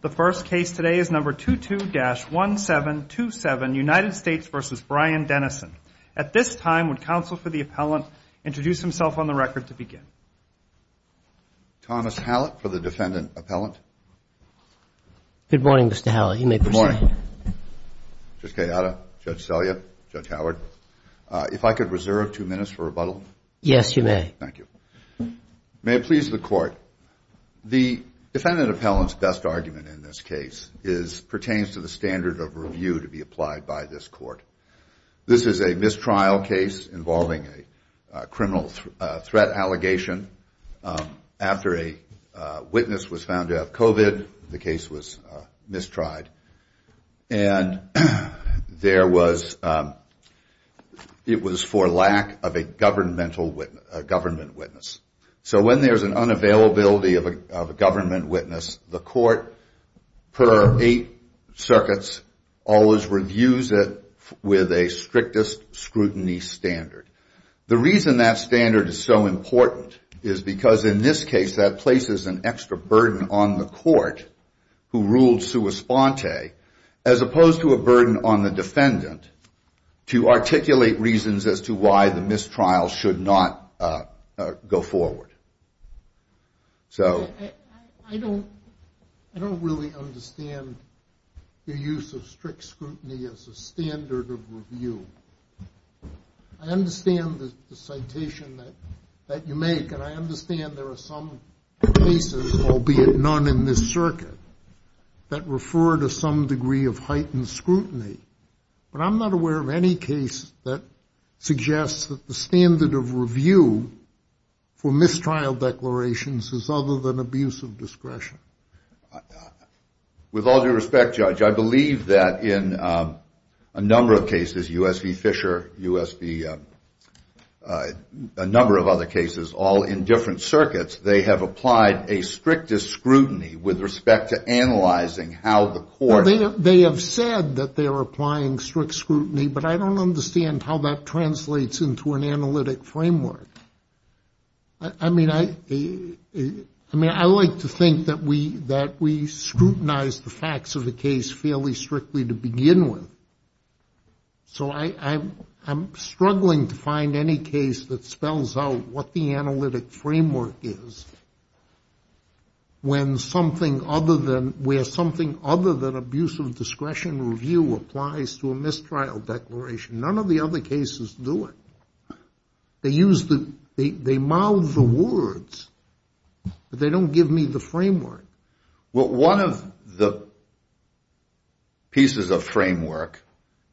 The first case today is number 22-1727, United States v. Brian Dennison. At this time, would counsel for the appellant introduce himself on the record to begin? Thomas Hallett for the defendant appellant. Good morning, Mr. Hallett. You may proceed. Good morning. Judge Gallardo, Judge Selya, Judge Howard. If I could reserve two minutes for rebuttal? Yes, you may. Thank you. May it please the court. The defendant appellant's best argument in this case pertains to the standard of review to be applied by this court. This is a mistrial case involving a criminal threat allegation. After a witness was found to have COVID, the case was mistried. And it was for lack of a government witness. So when there's an unavailability of a government witness, the court per eight circuits always reviews it with a strictest scrutiny standard. The reason that standard is so important is because in this case that places an extra burden on the court who ruled as opposed to a burden on the defendant to articulate reasons as to why the mistrial should not go forward. I don't really understand the use of strict scrutiny as a standard of review. I understand the citation that you make, and I understand there are some cases, albeit none in this circuit, that refer to some degree of heightened scrutiny. But I'm not aware of any case that suggests that the standard of review for mistrial declarations is other than abuse of discretion. With all due respect, Judge, I believe that in a number of cases, U.S. v. Fisher, U.S. v. a number of other cases, all in different circuits, they have applied a strictest scrutiny with respect to analyzing how the court. They have said that they are applying strict scrutiny, but I don't understand how that translates into an analytic framework. I mean, I like to think that we scrutinize the facts of the case fairly strictly to begin with. So I'm struggling to find any case that spells out what the analytic framework is, where something other than abuse of discretion review applies to a mistrial declaration. None of the other cases do it. They mouth the words, but they don't give me the framework. My understanding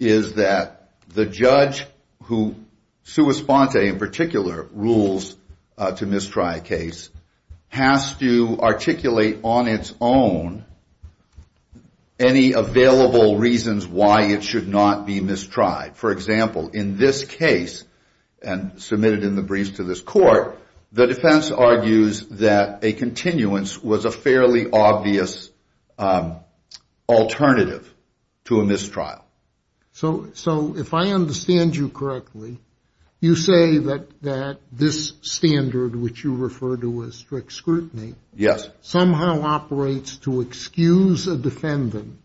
is that the judge who, sua sponte in particular, rules to mistry a case, has to articulate on its own any available reasons why it should not be mistried. For example, in this case, and submitted in the briefs to this court, the defense argues that a continuance was a fairly obvious alternative to a mistrial. So if I understand you correctly, you say that this standard, which you refer to as strict scrutiny, somehow operates to excuse a defendant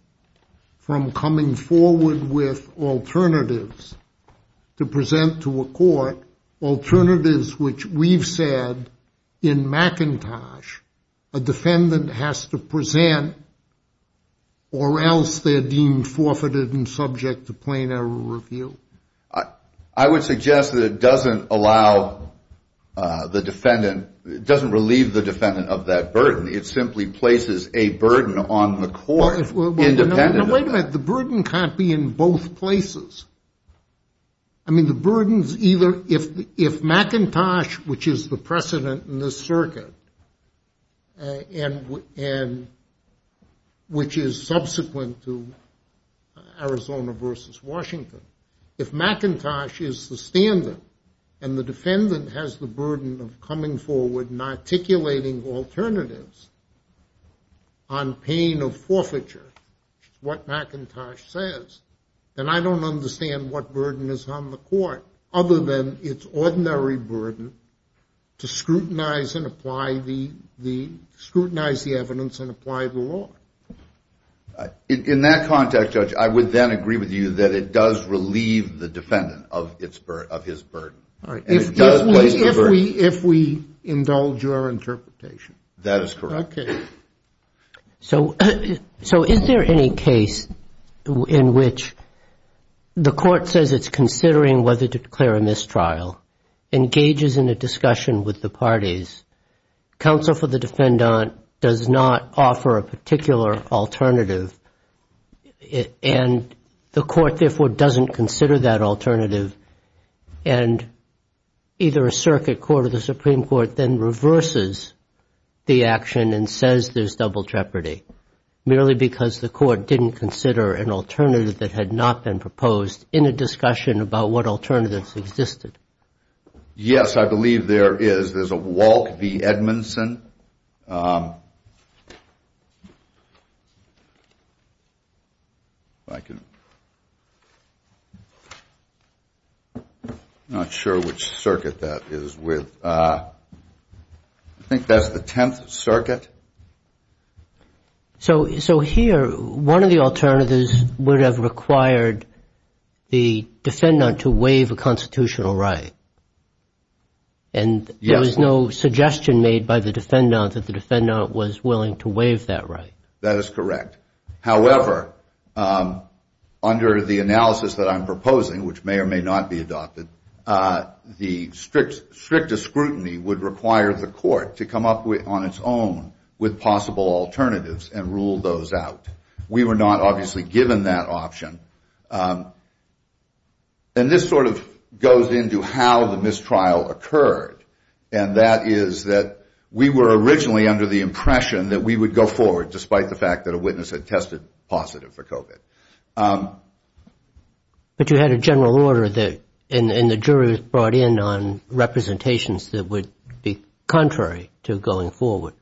from coming forward with alternatives to present to a court, alternatives which we've said in McIntosh, a defendant has to present, or else they're deemed forfeited and subject to plain error review? I would suggest that it doesn't allow the defendant, it doesn't relieve the defendant of that burden. It simply places a burden on the court, independent of that. Wait a minute, the burden can't be in both places. I mean, the burden's either, if McIntosh, which is the precedent in this circuit, which is subsequent to Arizona versus Washington, if McIntosh is the standard, and the defendant has the burden of coming forward and articulating alternatives on pain of forfeiture, what McIntosh says, then I don't understand what burden is on the court, other than its ordinary burden to scrutinize and apply the, scrutinize the evidence and apply the law. In that context, Judge, I would then agree with you that it does relieve the defendant of his burden. If we indulge your interpretation. That is correct. So is there any case in which the court says it's considering whether to declare a mistrial, engages in a discussion with the parties, counsel for the defendant does not offer a particular alternative, and the court therefore doesn't consider that alternative, and either a circuit court or the Supreme Court then reverses the action and says there's double jeopardy, merely because the court didn't consider an alternative that had not been proposed in a discussion about what alternatives existed? Yes, I believe there is. There's a Walke v. Edmondson. Not sure which circuit that is with. I think that's the Tenth Circuit. So here, one of the alternatives would have required the defendant to waive a constitutional right. And there was no suggestion made by the defendant that the defendant was willing to waive that right. That is correct. However, under the analysis that I'm proposing, which may or may not be adopted, the strictest scrutiny would require the court to come up on its own with possible alternatives and rule those out. We were not obviously given that option. And this sort of goes into how the mistrial occurred, and that is that we were originally under the impression that we would go forward, despite the fact that a witness had tested positive for COVID. But you had a general order, and the jury brought in on representations that would be contrary to going forward.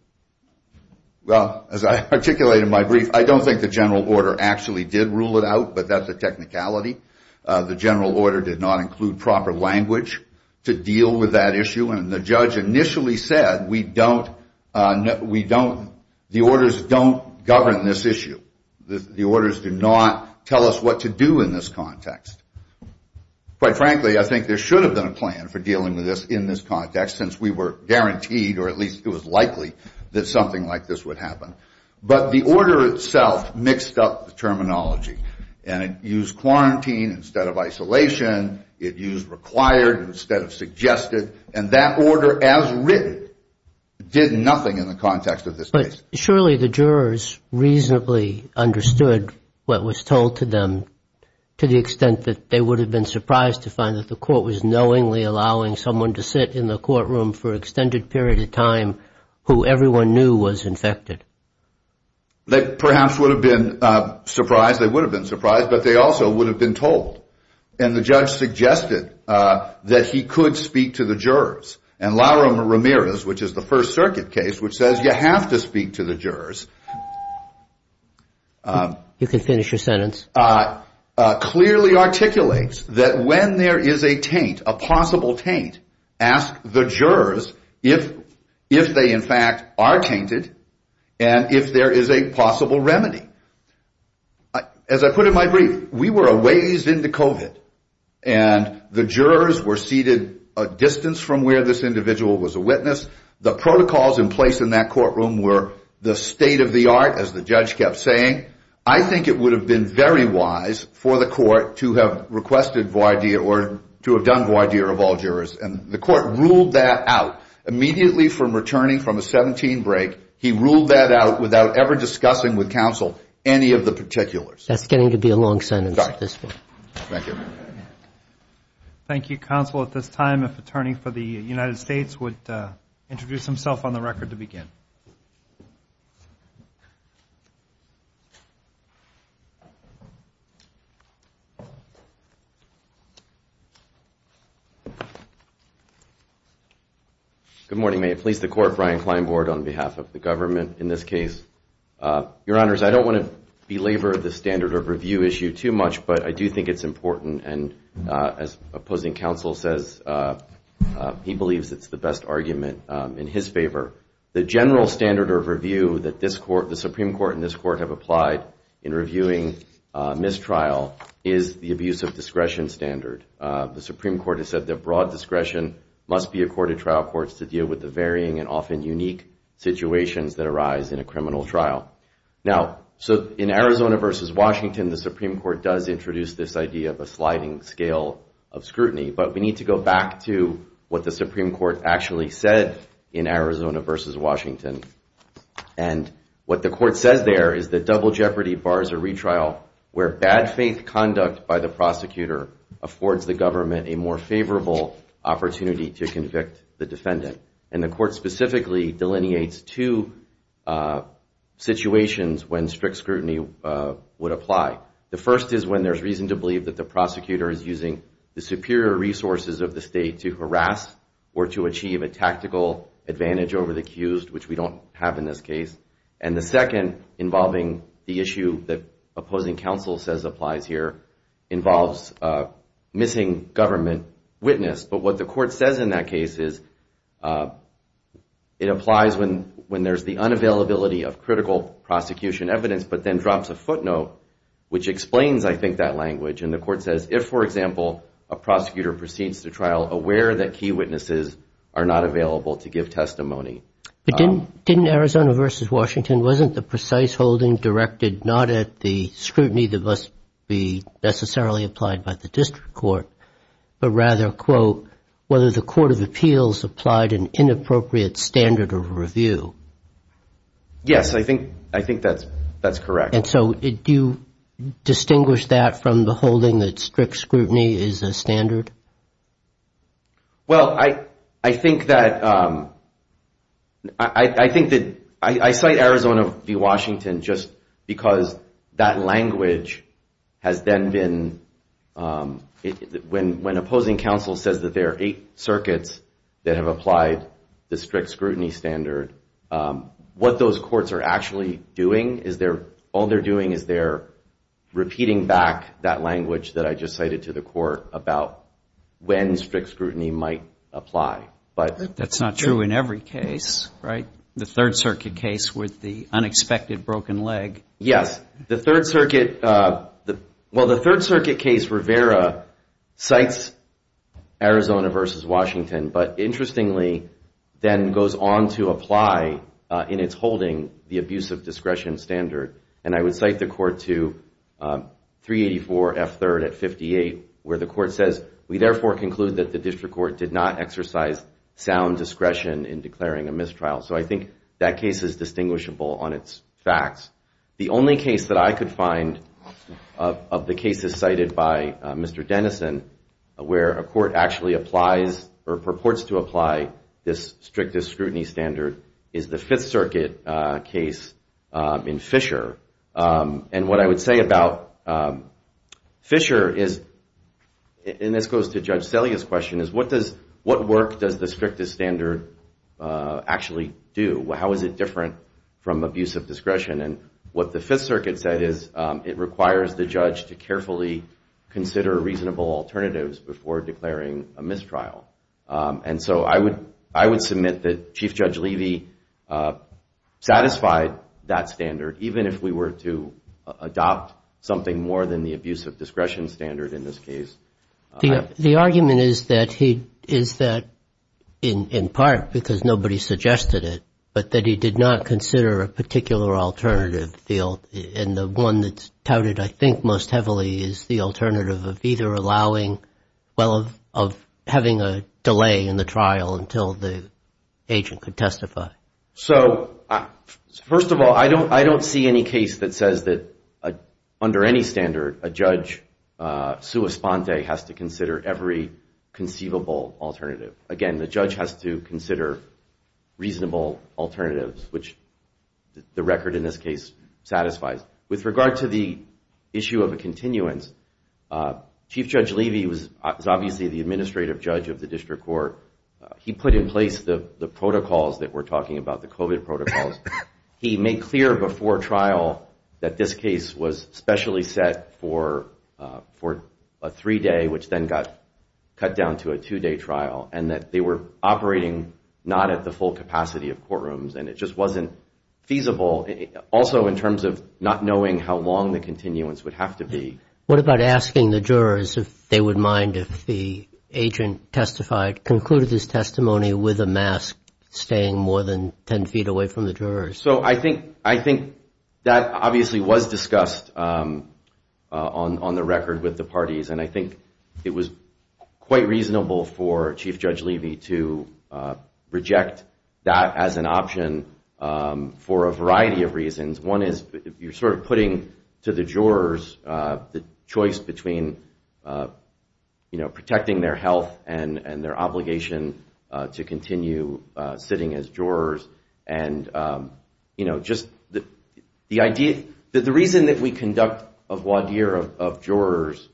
Well, as I articulated in my brief, I don't think the general order actually did rule it out, but that's a technicality. The general order did not include proper language to deal with that issue, and the judge initially said, the orders don't govern this issue. The orders do not tell us what to do in this context. Quite frankly, I think there should have been a plan for dealing with this in this context, since we were guaranteed, or at least it was likely, that something like this would happen. But the order itself mixed up the terminology, and it used quarantine instead of isolation. It used required instead of suggested, and that order, as written, did nothing in the context of this case. But surely the jurors reasonably understood what was told to them, to the extent that they would have been surprised to find that the court was knowingly allowing someone to sit in the courtroom for an extended period of time who everyone knew was infected. They perhaps would have been surprised, they would have been surprised, but they also would have been told. And the judge suggested that he could speak to the jurors. And Larum Ramirez, which is the First Circuit case, which says you have to speak to the jurors, clearly articulates that when there is a taint, a possible taint, ask the jurors if they in fact are tainted, if there is a possible remedy. As I put in my brief, we were a ways into COVID, and the jurors were seated a distance from where this individual was a witness. The protocols in place in that courtroom were the state of the art, as the judge kept saying. I think it would have been very wise for the court to have requested voir dire, or to have done voir dire of all jurors. And the court ruled that out immediately from returning from a 17 break. He ruled that out without ever discussing with counsel any of the particulars. That's getting to be a long sentence at this point. Thank you. Good morning, may I please the court, Brian Kleinbord on behalf of the government in this case. Your honors, I don't want to belabor the standard of review issue too much, but I do think it's important. And as opposing counsel says, he believes it's the best argument in his favor. The general standard of review that the Supreme Court and this court have applied in reviewing mistrial is the abuse of discretion standard. The Supreme Court has said that broad discretion must be accorded trial courts to deal with the varying and often unique situations that arise in a criminal trial. Now, so in Arizona v. Washington, the Supreme Court does introduce this idea of a sliding scale of scrutiny. But we need to go back to what the Supreme Court actually said in Arizona v. Washington. And what the court says there is that double jeopardy bars a retrial where bad faith conduct by the prosecutor affords the juror and affords the government a more favorable opportunity to convict the defendant. And the court specifically delineates two situations when strict scrutiny would apply. The first is when there's reason to believe that the prosecutor is using the superior resources of the state to harass or to achieve a tactical advantage over the accused, which we don't have in this case. And the second involving the issue that opposing counsel says applies here involves missing government witness. But what the court says in that case is it applies when there's the unavailability of critical prosecution evidence, but then drops a footnote, which explains, I think, that language. And the court says if, for example, a prosecutor proceeds to trial aware that key witnesses are not available to give testimony. And the court says in Arizona v. Washington, wasn't the precise holding directed not at the scrutiny that must be necessarily applied by the district court, but rather, quote, whether the court of appeals applied an inappropriate standard of review? Yes, I think that's correct. And so do you distinguish that from the holding that strict scrutiny is a standard? Well, I think that I cite Arizona v. Washington just because that language has then been, when opposing counsel says that there are eight circuits that have applied the strict scrutiny standard, what those courts are actually doing is they're, all they're doing is they're repeating back that language that I just cited to the court about when strict scrutiny might apply. But that's not true in every case, right? The Third Circuit case with the unexpected broken leg. Yes, the Third Circuit, well, the Third Circuit case Rivera cites Arizona v. Washington, but interestingly, then goes on to apply in its holding the Fifth Circuit case in 1958 where the court says, we therefore conclude that the district court did not exercise sound discretion in declaring a mistrial. So I think that case is distinguishable on its facts. The only case that I could find of the cases cited by Mr. Denison where a court actually applies or purports to apply this strict scrutiny standard is the Fifth Circuit case in Fisher. And this goes to Judge Celia's question is what does, what work does the strictest standard actually do? How is it different from abuse of discretion? And what the Fifth Circuit said is it requires the judge to carefully consider reasonable alternatives before declaring a mistrial. And so I would, I would submit that Chief Judge Levy satisfied that standard even if we were to adopt something more than the abuse of discretion standard. The argument is that he, is that in part because nobody suggested it, but that he did not consider a particular alternative. And the one that's touted, I think, most heavily is the alternative of either allowing, well, of having a delay in the trial until the agent could testify. So first of all, I don't, I don't see any case that says that under any standard, a judge sues the defendant. And so the legal respondent has to consider every conceivable alternative. Again, the judge has to consider reasonable alternatives, which the record in this case satisfies. With regard to the issue of a continuance, Chief Judge Levy was obviously the administrative judge of the district court. He put in place the protocols that we're talking about, the COVID protocols. He made clear before trial that this case was specially set for a three-day, which then got cut down to a two-day trial, and that they were operating not at the full capacity of courtrooms, and it just wasn't feasible. Also, in terms of not knowing how long the continuance would have to be. What about asking the jurors if they would mind if the agent testified, concluded his testimony with a mask, staying more than 10 feet away from the jurors? So I think, I think that obviously was discussed on the record with the parties, and I think it was quite reasonable for Chief Judge Levy to reject that as an option for a variety of reasons. One is, you're sort of putting to the jurors the choice between, you know, sitting as jurors and, you know, just the idea, the reason that we conduct a voir dire of jurors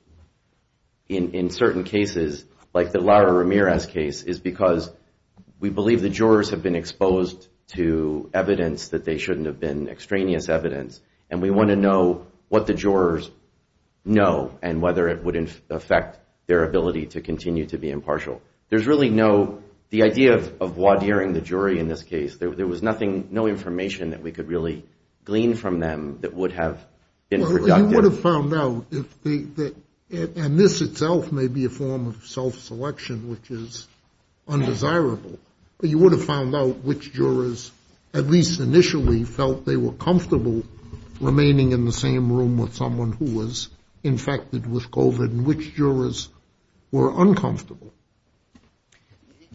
in certain cases, like the Lara Ramirez case, is because we believe the jurors have been exposed to evidence that they shouldn't have been extraneous evidence, and we want to know what the jurors know and whether it would affect their ability to continue to be impartial. There's really no, the idea of voir diring the jury in this case, there was nothing, no information that we could really glean from them that would have been productive. You would have found out, and this itself may be a form of self-selection, which is undesirable, but you would have found out which jurors at least initially felt they were comfortable remaining in the same room with someone who was infected with COVID, and which jurors were uncomfortable.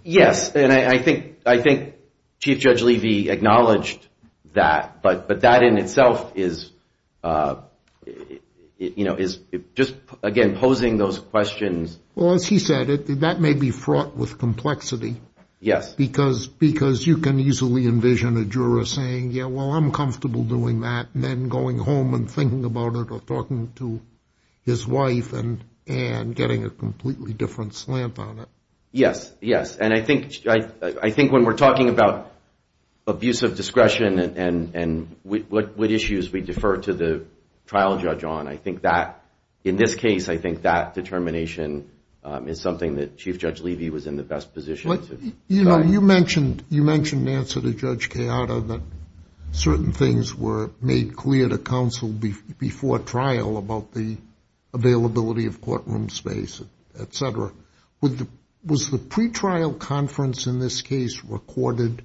Yes, and I think Chief Judge Levy acknowledged that, but that in itself is, you know, is just, again, posing those questions. Well, as he said, that may be fraught with complexity. Yes. Because you can easily envision a juror saying, yeah, well, I'm comfortable doing that, and then going home and thinking about it or talking to his wife and getting a completely different slant on it. Yes, yes, and I think when we're talking about abuse of discretion and what issues we defer to the trial judge on, I think that, in this case, I think that determination is something that Chief Judge Levy was in the best position. Well, you know, you mentioned, you mentioned, Nancy, to Judge Chiara, that certain things were made clear to counsel before trial about the availability of courtroom space, et cetera. Was the pretrial conference in this case recorded?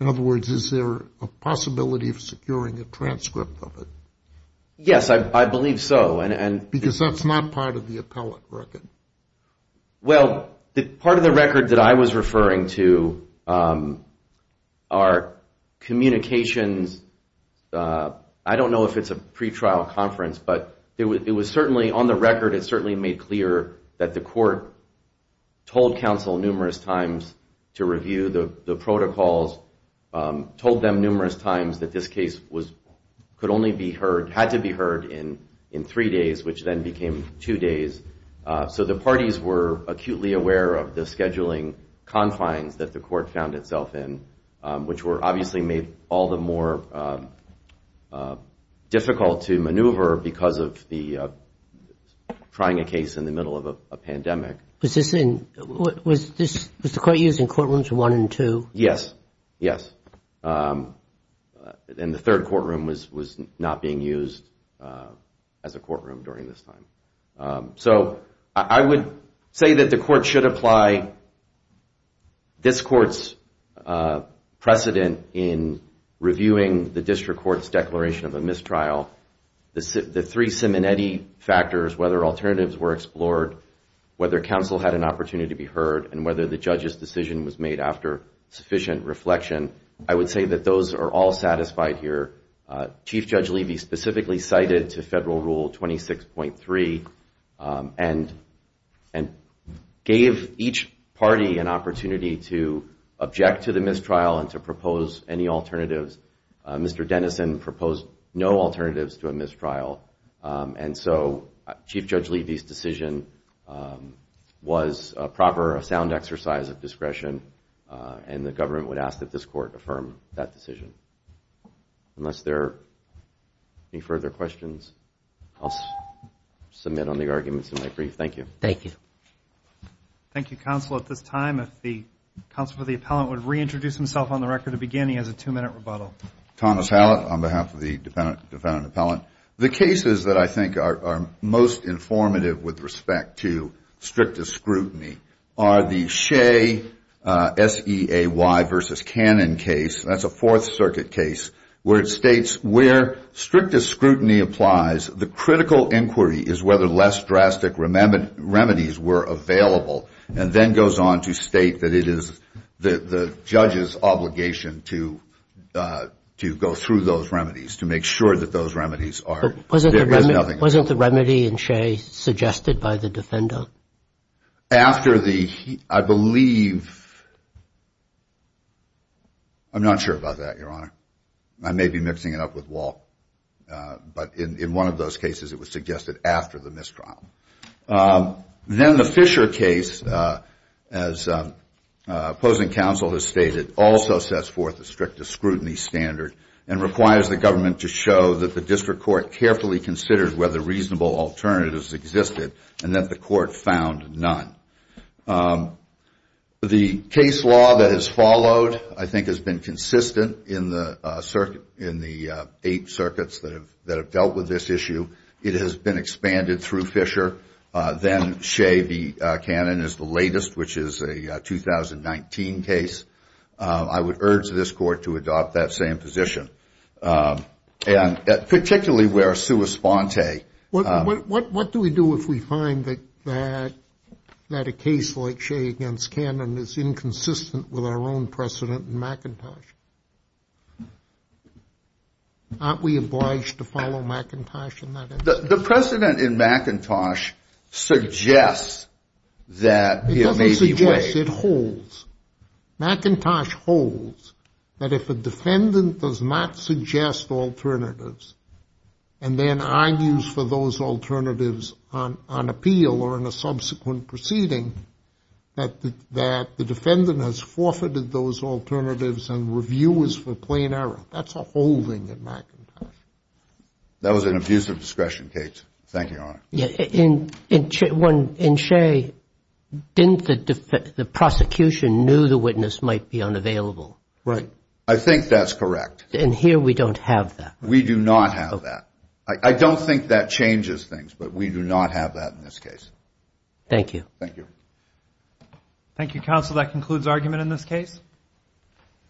In other words, is there a possibility of securing a transcript of it? Yes, I believe so. Because that's not part of the appellate record. Well, part of the record that I was referring to are communications, I don't know if it's a pretrial conference, but it was certainly, on the record, it certainly made clear that the court told counsel numerous times to review the protocols, told them numerous times that this case could only be heard, had to be heard in three days, which then became two days. So the parties were acutely aware of the scheduling confines that the court found itself in, which were obviously made all the more difficult to maneuver because of the trying a case in the middle of a pandemic. Was the court using courtrooms one and two? Yes, yes. And the third courtroom was not being used as a courtroom during this time. So I would say that the court should apply this court's precedent in reviewing the district court's declaration of a mistrial, the three Simonetti factors, whether alternatives were explored, whether counsel had an opportunity to be heard, and whether the judge's decision was made after sufficient reflection, I would say that those are all satisfied here. Chief Judge Levy specifically cited to Federal Rule 26.3 and gave each party an opportunity to object to the mistrial and to propose any alternatives. Mr. Dennison proposed no alternatives to a mistrial, and so Chief Judge Levy's decision was a proper, a sound exercise of discretion, and the government would ask that this court affirm that decision. Unless there are any further questions, I'll submit on the arguments in my brief. Thank you. Thank you. Thank you, counsel. At this time, if the counsel for the appellant would reintroduce himself on the record to begin, he has a two-minute rebuttal. Thomas Hallett on behalf of the defendant appellant. The cases that I think are most informative with respect to strictest scrutiny are the Shea, S-E-A-Y versus Cannon case. That's a Fourth Circuit case where it states where strictest scrutiny applies, the critical inquiry is whether less drastic remedies are available, and then goes on to state that it is the judge's obligation to go through those remedies, to make sure that those remedies are available. Wasn't the remedy in Shea suggested by the defendant? I'm not sure about that, Your Honor. I may be mixing it up with Walt, but in one of those cases it was suggested after the mistrial. Then the Fisher case, as opposing counsel has stated, also sets forth a strictest scrutiny standard and requires the government to show that the district court carefully considered whether reasonable alternatives existed and that the court found none. The case law that has followed, I think, has been consistent in the eight circuits that have dealt with this issue. It has been expanded through Fisher. Then Shea v. Cannon is the latest, which is a 2019 case. I would urge this court to adopt that same position. And particularly where sua sponte. What do we do if we find that a case like Shea v. Cannon is inconsistent with our own precedent in McIntosh? Aren't we obliged to follow McIntosh in that instance? The precedent in McIntosh suggests that it may be Shea. It doesn't suggest, it holds. McIntosh holds that if a defendant does not suggest alternatives and then argues for those alternatives on appeal or in a subsequent proceeding, that the defendant has forfeited those alternatives and review is for plain error. That's a holding in McIntosh. That was an abuse of discretion, Kate. Thank you. In Shea, didn't the prosecution knew the witness might be unavailable? I think that's correct. And here we don't have that. We do not have that. I don't think that changes things, but we do not have that in this case.